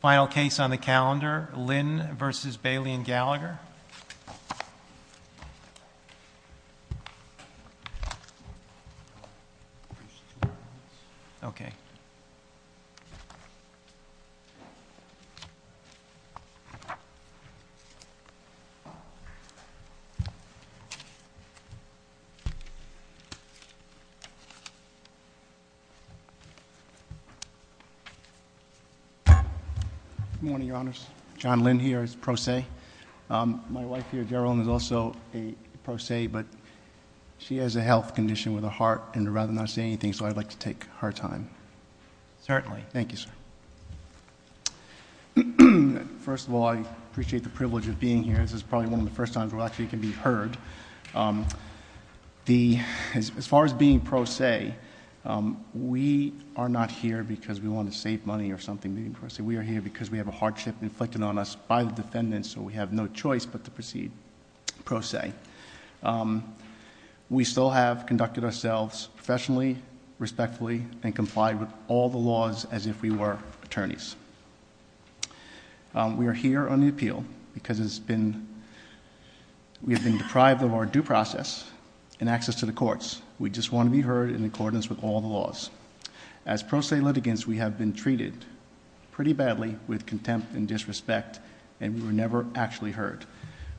Final case on the calendar, Lynn v. Bailey and Gallagher. Good morning, your honors. John Lynn here is pro se. My wife here, Gerilyn, is also a pro se, but she has a health condition with a heart and would rather not say anything, so I'd like to take her time. Certainly. Thank you, sir. First of all, I appreciate the privilege of being here. This is probably one of the first times we can actually be heard. As far as being pro se, we are not here because we want to save money or something. We are here because we have a hardship inflicted on us by the defendant, so we have no choice but to proceed pro se. We still have conducted ourselves professionally, respectfully, and complied with all the laws as if we were attorneys. We are here on the appeal because we have been deprived of our due process and access to the courts. We just want to be heard in accordance with all the laws. As pro se litigants, we have been treated pretty badly with contempt and disrespect, and we were never actually heard.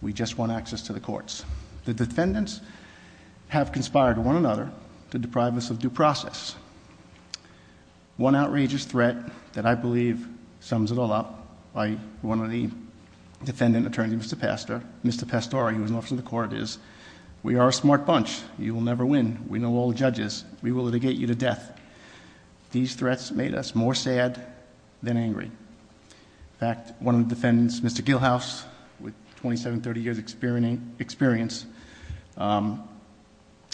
We just want access to the courts. The defendants have conspired with one another to deprive us of due process. One outrageous threat that I believe sums it all up by one of the defendant attorneys, Mr. Pastore, who is an officer in the court, is we are a smart bunch. You will never win. We know all the judges. We will litigate you to death. These threats made us more sad than angry. In fact, one of the defendants, Mr. Gilhouse, with 27, 30 years' experience,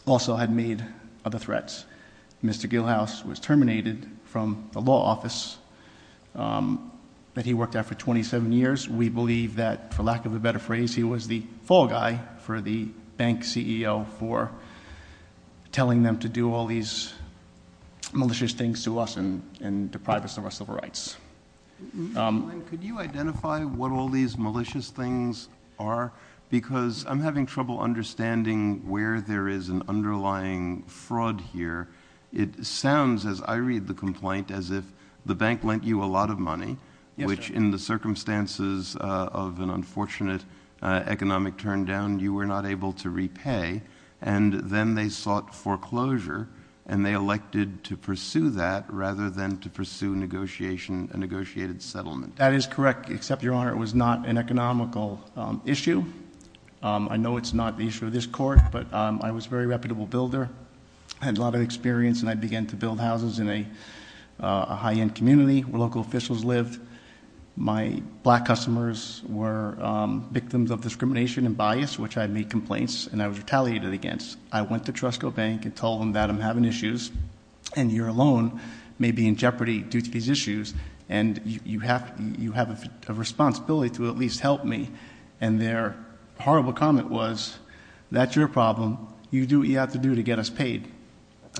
also had made other threats. Mr. Gilhouse was terminated from the law office that he worked at for 27 years. We believe that, for lack of a better phrase, he was the fall guy for the bank CEO for telling them to do all these malicious things to us and deprive us of our civil rights. Mr. Blank, could you identify what all these malicious things are? Because I'm having trouble understanding where there is an underlying fraud here. It sounds, as I read the complaint, as if the bank lent you a lot of money, which in the circumstances of an unfortunate economic turndown, you were not able to repay. Then they sought foreclosure, and they elected to pursue that rather than to pursue a negotiated settlement. That is correct, except, Your Honor, it was not an economical issue. I know it's not the issue of this court, but I was a very reputable builder. I had a lot of experience, and I began to build houses in a high-end community where local officials lived. My black customers were victims of discrimination and bias, which I made complaints, and I was retaliated against. I went to Trusco Bank and told them that I'm having issues, and you're alone, maybe in jeopardy, due to these issues. And you have a responsibility to at least help me. And their horrible comment was, that's your problem, you do what you have to do to get us paid.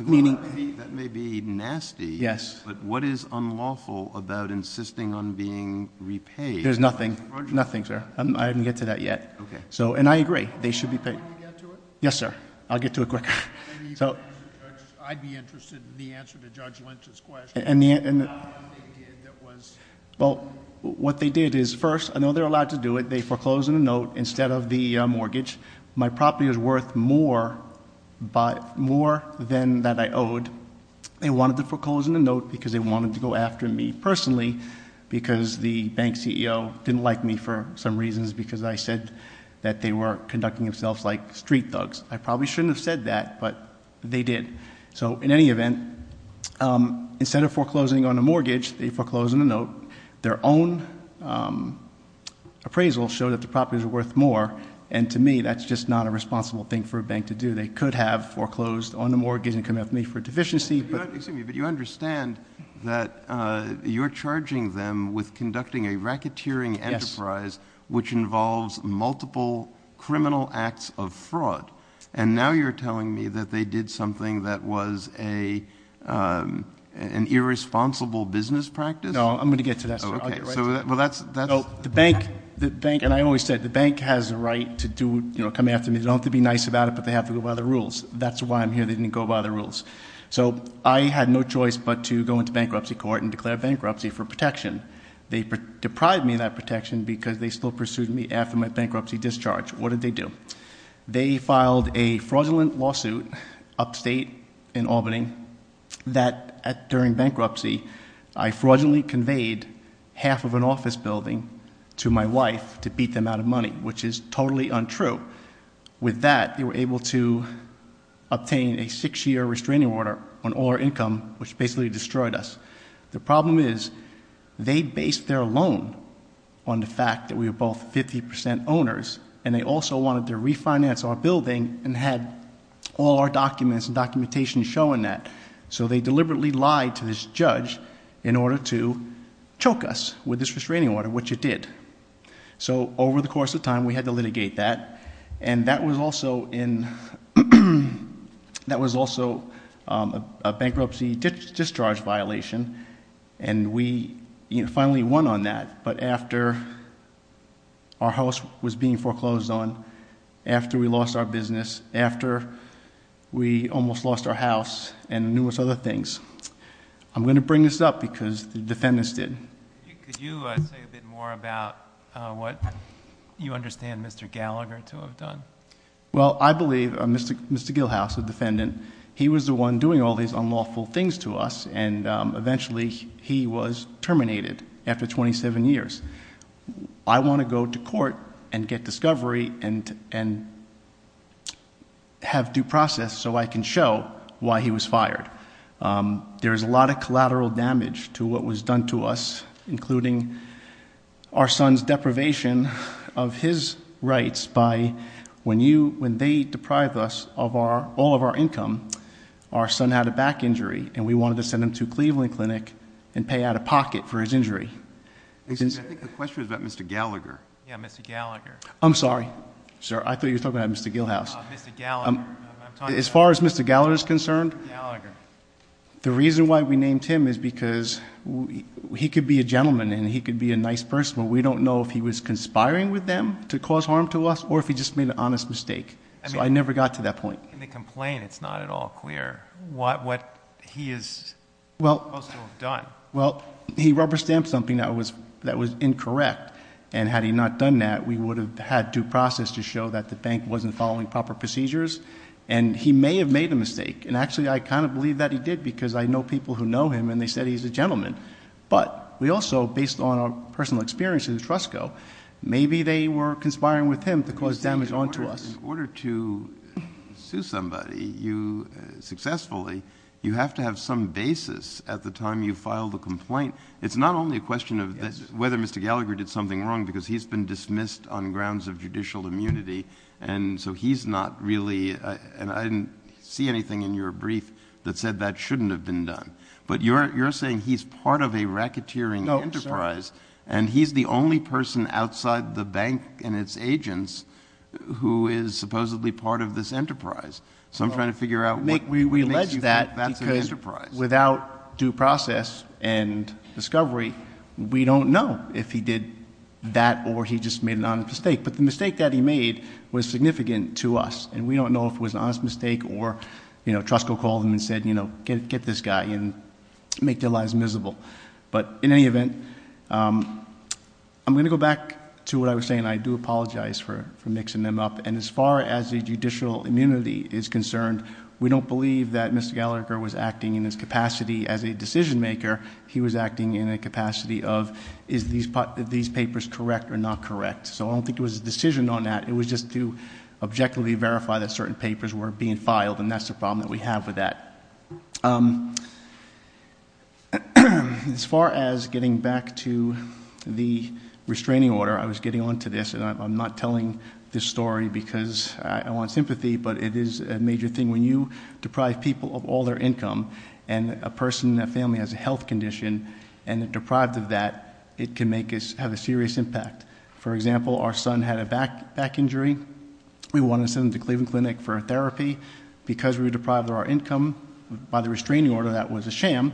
Meaning- That may be nasty, but what is unlawful about insisting on being repaid? There's nothing, nothing, sir, I didn't get to that yet, and I agree, they should be paid. Yes, sir, I'll get to it quick. So, I'd be interested in the answer to Judge Lynch's question, how come they did that was- Well, what they did is, first, I know they're allowed to do it, they foreclosed on a note instead of the mortgage. My property was worth more than that I owed. They wanted to foreclose on a note because they wanted to go after me personally, because the bank CEO didn't like me for some reasons, because I said that they were conducting themselves like street thugs. I probably shouldn't have said that, but they did. So in any event, instead of foreclosing on a mortgage, they foreclosed on a note. Their own appraisal showed that the property was worth more. And to me, that's just not a responsible thing for a bank to do. They could have foreclosed on a mortgage and come after me for deficiency, but- Excuse me, but you understand that you're charging them with conducting a racketeering enterprise- Yes. Which involves multiple criminal acts of fraud. And now you're telling me that they did something that was an irresponsible business practice? No, I'm going to get to that, sir. Okay, so that's- The bank, and I always said, the bank has a right to come after me. They don't have to be nice about it, but they have to go by the rules. That's why I'm here, they didn't go by the rules. So I had no choice but to go into bankruptcy court and declare bankruptcy for protection. They deprived me of that protection because they still pursued me after my bankruptcy discharge. What did they do? They filed a fraudulent lawsuit upstate in Albany that during bankruptcy, I fraudulently conveyed half of an office building to my wife to beat them out of money, which is totally untrue. With that, they were able to obtain a six year restraining order on all our income, which basically destroyed us. The problem is, they based their loan on the fact that we were both 50% owners, and they also wanted to refinance our building and had all our documents and documentation showing that. So they deliberately lied to this judge in order to choke us with this restraining order, which it did. So over the course of time, we had to litigate that. And that was also a bankruptcy discharge violation. And we finally won on that, but after our house was being foreclosed on, after we lost our business, after we almost lost our house and numerous other things. I'm going to bring this up because the defendants did. Could you say a bit more about what you understand Mr. Gallagher to have done? Well, I believe Mr. Gilhouse, the defendant, he was the one doing all these unlawful things to us, and eventually he was terminated after 27 years. I want to go to court and get discovery and have due process so I can show why he was fired. There's a lot of collateral damage to what was done to us, including our son's deprivation of his rights by. When they deprived us of all of our income, our son had a back injury, and we wanted to send him to Cleveland Clinic and pay out of pocket for his injury. I think the question is about Mr. Gallagher. Yeah, Mr. Gallagher. I'm sorry, sir, I thought you were talking about Mr. Gilhouse. Mr. Gallagher, I'm talking about- As far as Mr. Gallagher is concerned, the reason why we named him is because he could be a gentleman and he could be a nice person, but we don't know if he was conspiring with them to cause harm to us or if he just made an honest mistake. So I never got to that point. In the complaint, it's not at all clear what he is supposed to have done. Well, he rubber stamped something that was incorrect. And had he not done that, we would have had due process to show that the bank wasn't following proper procedures. And he may have made a mistake. And actually, I kind of believe that he did because I know people who know him and they said he's a gentleman. But we also, based on our personal experience in the trust go, maybe they were conspiring with him to cause damage onto us. In order to sue somebody successfully, you have to have some basis at the time you file the complaint. It's not only a question of whether Mr. Gallagher did something wrong, because he's been dismissed on grounds of judicial immunity. And so he's not really, and I didn't see anything in your brief that said that shouldn't have been done. But you're saying he's part of a racketeering enterprise, and that he's the only person outside the bank and its agents who is supposedly part of this enterprise. So I'm trying to figure out what makes you think that's an enterprise. Without due process and discovery, we don't know if he did that or he just made an honest mistake. But the mistake that he made was significant to us. And we don't know if it was an honest mistake or Trust will call him and say, get this guy and make their lives miserable. But in any event, I'm going to go back to what I was saying. I do apologize for mixing them up. And as far as the judicial immunity is concerned, we don't believe that Mr. Gallagher was acting in his capacity as a decision maker. He was acting in a capacity of, is these papers correct or not correct? So I don't think it was a decision on that. It was just to objectively verify that certain papers were being filed, and that's the problem that we have with that. As far as getting back to the restraining order, I was getting on to this, and I'm not telling this story because I want sympathy, but it is a major thing. When you deprive people of all their income, and a person, a family has a health condition, and they're deprived of that, it can have a serious impact. For example, our son had a back injury. We wanted to send him to Cleveland Clinic for therapy. Because we were deprived of our income by the restraining order, that was a sham.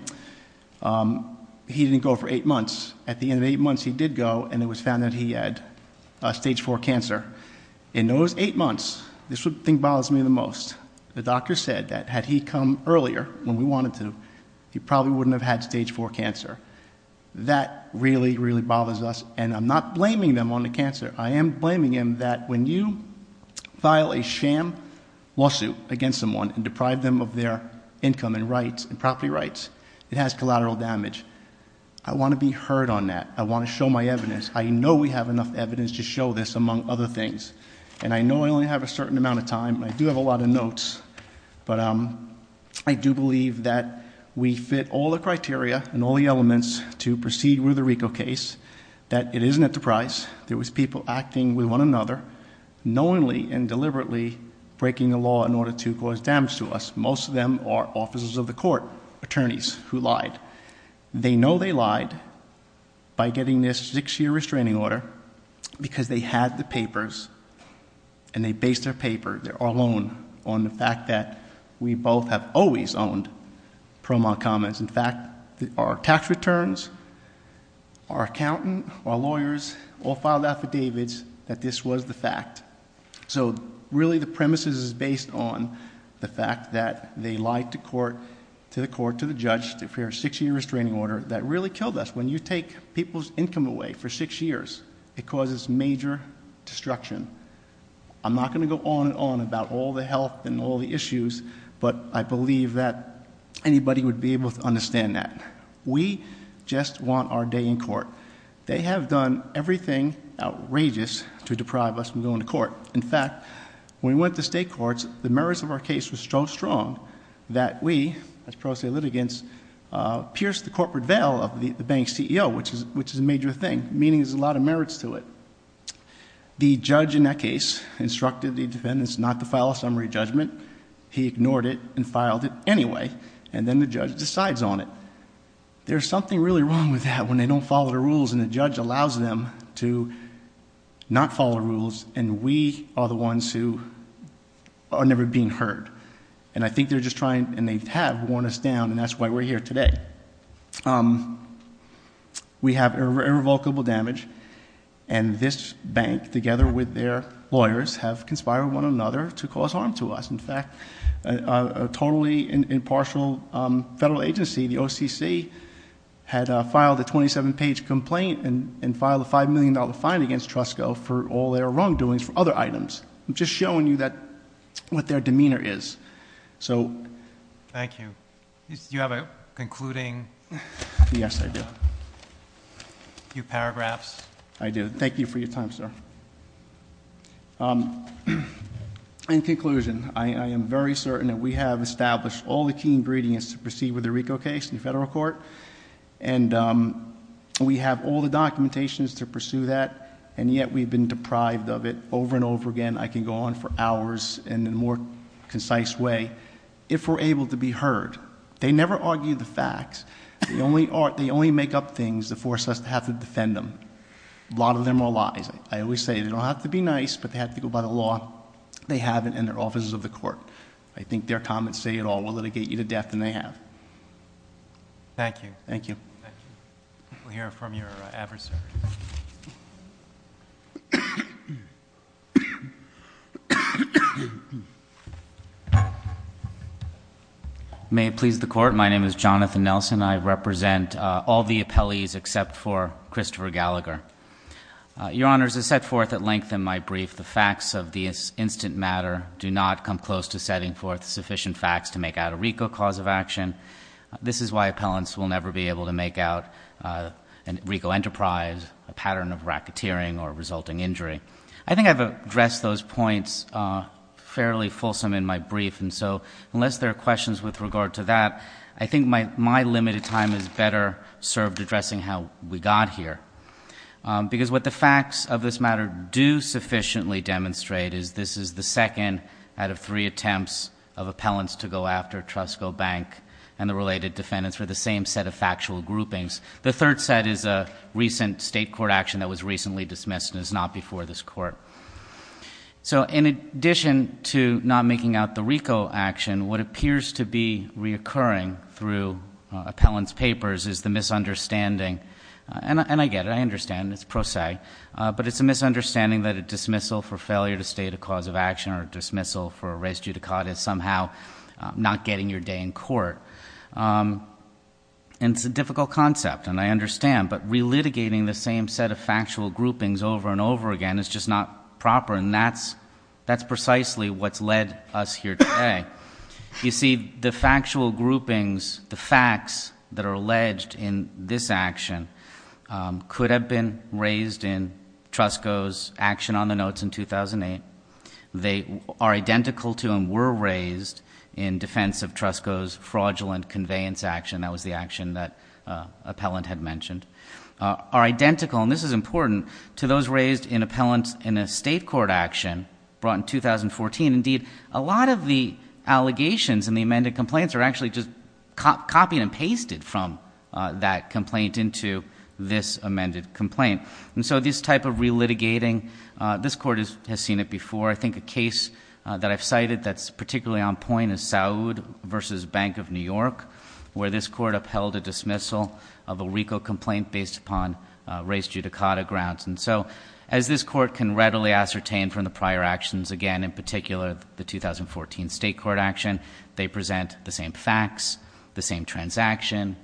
He didn't go for eight months. At the end of eight months, he did go, and it was found that he had stage four cancer. In those eight months, this is what bothers me the most. The doctor said that had he come earlier, when we wanted to, he probably wouldn't have had stage four cancer. That really, really bothers us, and I'm not blaming them on the cancer. I am blaming him that when you file a sham lawsuit against someone and it has collateral damage, I want to be heard on that. I want to show my evidence. I know we have enough evidence to show this, among other things. And I know I only have a certain amount of time, and I do have a lot of notes. But I do believe that we fit all the criteria and all the elements to proceed with the Rico case. That it is an enterprise. There was people acting with one another, knowingly and deliberately breaking the law in order to cause damage to us. Most of them are officers of the court, attorneys who lied. They know they lied by getting this six year restraining order, because they had the papers, and they based their paper, their loan, on the fact that we both have always owned Promo Commons. In fact, our tax returns, our accountant, our lawyers, all filed affidavits that this was the fact. So really the premise is based on the fact that they lied to court, to the court, to the judge for a six year restraining order that really killed us. When you take people's income away for six years, it causes major destruction. I'm not going to go on and on about all the health and all the issues, but I believe that anybody would be able to understand that. We just want our day in court. They have done everything outrageous to deprive us from going to court. In fact, when we went to state courts, the merits of our case was so strong that we, as pro se litigants, pierced the corporate veil of the bank's CEO, which is a major thing, meaning there's a lot of merits to it. The judge in that case instructed the defendants not to file a summary judgment. He ignored it and filed it anyway, and then the judge decides on it. There's something really wrong with that when they don't follow the rules, and the judge allows them to not follow the rules, and we are the ones who are never being heard. And I think they're just trying, and they have, worn us down, and that's why we're here today. We have irrevocable damage, and this bank, together with their lawyers, have conspired with one another to cause harm to us. In fact, a totally impartial federal agency, the OCC, had filed a 27-page complaint and filed a $5 million fine against Trusco for all their wrongdoings for other items. I'm just showing you what their demeanor is. So- Thank you. You have a concluding- Yes, I do. Few paragraphs. I do. Thank you for your time, sir. In conclusion, I am very certain that we have established all the key ingredients to proceed with the Rico case in the federal court. And we have all the documentations to pursue that, and yet we've been deprived of it over and over again. I can go on for hours, and in a more concise way, if we're able to be heard. They never argue the facts, they only make up things to force us to have to defend them. A lot of them are lies. I always say, they don't have to be nice, but they have to go by the law. They haven't in their offices of the court. I think their comments say it all. We'll litigate you to death, and they have. Thank you. Thank you. Thank you. We'll hear from your adversary. May it please the court, my name is Jonathan Nelson. I represent all the appellees except for Christopher Gallagher. Your honors, as set forth at length in my brief, the facts of this instant matter do not come close to setting forth sufficient facts to make out a Rico cause of action. This is why appellants will never be able to make out a Rico enterprise, a pattern of racketeering or resulting injury. I think I've addressed those points fairly fulsome in my brief, and so unless there are questions with regard to that, I think my limited time is better served addressing how we got here. Because what the facts of this matter do sufficiently demonstrate is this is the second out of three attempts of appellants to go after Trusco Bank and the related defendants for the same set of factual groupings. The third set is a recent state court action that was recently dismissed and is not before this court. So in addition to not making out the Rico action, what appears to be reoccurring through appellants' papers is the misunderstanding. And I get it, I understand, it's pro se. But it's a misunderstanding that a dismissal for failure to state a cause of action or a dismissal for a res judicata is somehow not getting your day in court. And it's a difficult concept, and I understand. But re-litigating the same set of factual groupings over and over again is just not proper, and that's precisely what's led us here today. You see, the factual groupings, the facts that are alleged in this action could have been raised in Trusco's action on the notes in 2008. They are identical to and were raised in defense of Trusco's fraudulent conveyance action. And that was the action that appellant had mentioned. Are identical, and this is important, to those raised in appellants in a state court action brought in 2014. Indeed, a lot of the allegations in the amended complaints are actually just copied and pasted from that complaint into this amended complaint. And so this type of re-litigating, this court has seen it before. I think a case that I've cited that's particularly on point is Saud versus Bank of New York, where this court upheld a dismissal of a RICO complaint based upon race judicata grounds. And so, as this court can readily ascertain from the prior actions, again, in particular the 2014 state court action, they present the same facts, the same transaction,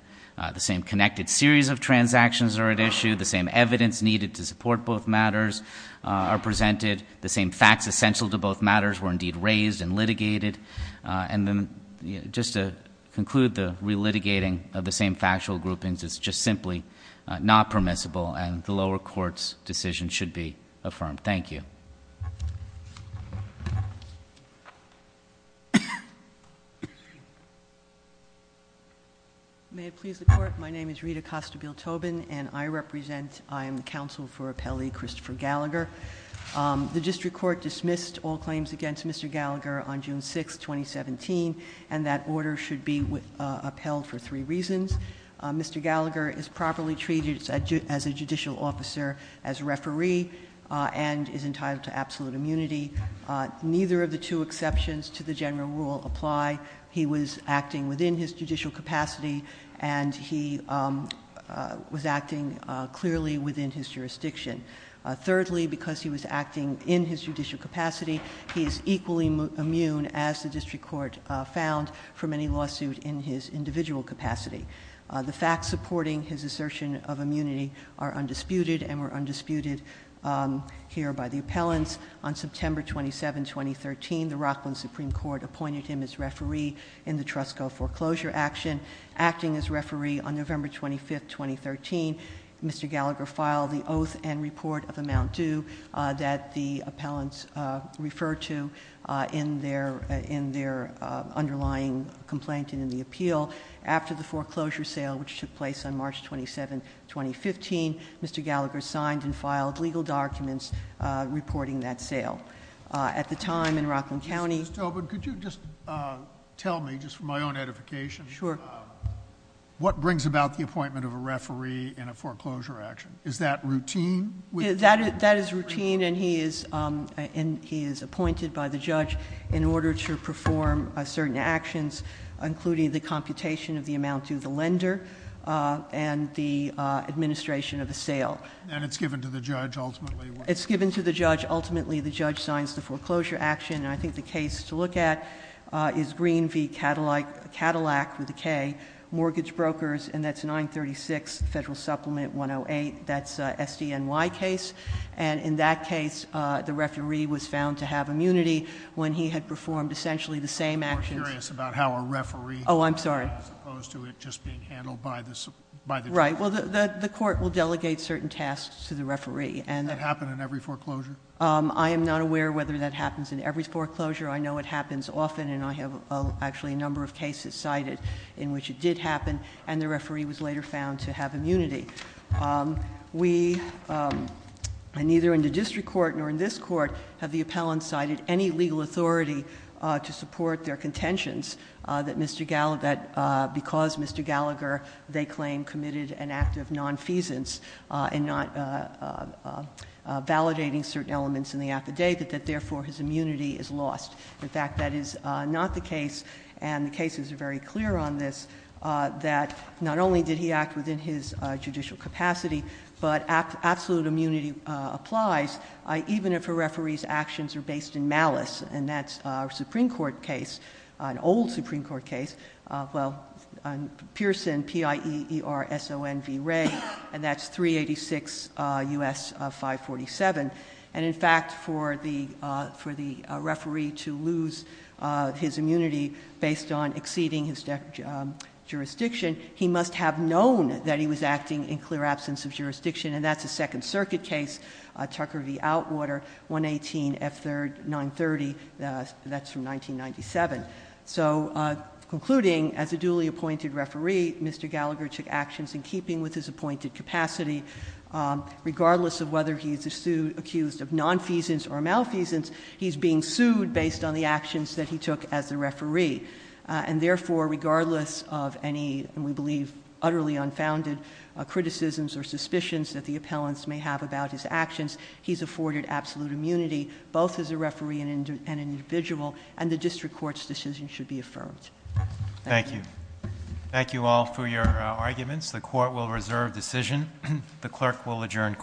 the same connected series of transactions are at issue, the same evidence needed to support both matters are presented, the same facts essential to both matters were indeed raised and litigated. And then, just to conclude, the re-litigating of the same factual groupings is just simply not permissible. And the lower court's decision should be affirmed. Thank you. May it please the court, my name is Rita Costa-Biltobin, and I represent, I am the counsel for appellee Christopher Gallagher. The district court dismissed all claims against Mr. Gallagher on June 6th, 2017, and that order should be upheld for three reasons. Mr. Gallagher is properly treated as a judicial officer, as a referee, and is entitled to absolute immunity. Neither of the two exceptions to the general rule apply. He was acting within his judicial capacity, and he was acting clearly within his jurisdiction. Thirdly, because he was acting in his judicial capacity, he is equally immune, as the district court found, from any lawsuit in his individual capacity. The facts supporting his assertion of immunity are undisputed, and were undisputed here by the appellants. On September 27, 2013, the Rockland Supreme Court appointed him as referee in the Trusco foreclosure action. Acting as referee on November 25th, 2013, Mr. Gallagher filed the oath and report of amount due that the appellants referred to in their underlying complaint and in the appeal. After the foreclosure sale, which took place on March 27, 2015, Mr. Gallagher signed and filed legal documents reporting that sale. At the time in Rockland County- Ms. Tobin, could you just tell me, just for my own edification. Sure. What brings about the appointment of a referee in a foreclosure action? Is that routine? That is routine, and he is appointed by the judge in order to perform certain actions, including the computation of the amount due the lender, and the administration of the sale. And it's given to the judge, ultimately? It's given to the judge. Ultimately, the judge signs the foreclosure action. And I think the case to look at is Green v. Cadillac, with a K, mortgage brokers, and that's 936 Federal Supplement 108. That's a SDNY case. And in that case, the referee was found to have immunity when he had performed essentially the same actions. I'm more curious about how a referee- Oh, I'm sorry. As opposed to it just being handled by the judge. Right. Well, the court will delegate certain tasks to the referee. Does that happen in every foreclosure? I am not aware whether that happens in every foreclosure. I know it happens often, and I have actually a number of cases cited in which it did happen, and the referee was later found to have immunity. We, and neither in the district court nor in this court, have the appellant cited any legal authority to support their contentions that Mr. Gallagher, because Mr. Gallagher, they claim committed an act of non-feasance and not validating certain elements in the affidavit, that therefore his immunity is lost. In fact, that is not the case, and the cases are very clear on this, that not only did he act within his judicial capacity, but absolute immunity applies, even if a referee's actions are based in malice, and that's a Supreme Court case, an old Supreme Court case. Well, Pearson, P-I-E-E-R-S-O-N-V-R-A, and that's 386 U.S. 547. And in fact, for the referee to lose his immunity based on exceeding his jurisdiction, he must have known that he was acting in clear absence of jurisdiction, and that's a Second Circuit case. Tucker v. Outwater, 118 F930, that's from 1997. So, concluding, as a duly appointed referee, Mr. Gallagher took actions in keeping with his appointed capacity, regardless of whether he's accused of non-feasance or malfeasance, he's being sued based on the actions that he took as a referee. And therefore, regardless of any, we believe, utterly unfounded criticisms or suspicions that the appellants may have about his actions, he's afforded absolute immunity, both as a referee and an individual, and the district court's decision should be affirmed. Thank you. Thank you all for your arguments. The court will reserve decision. The clerk will adjourn court.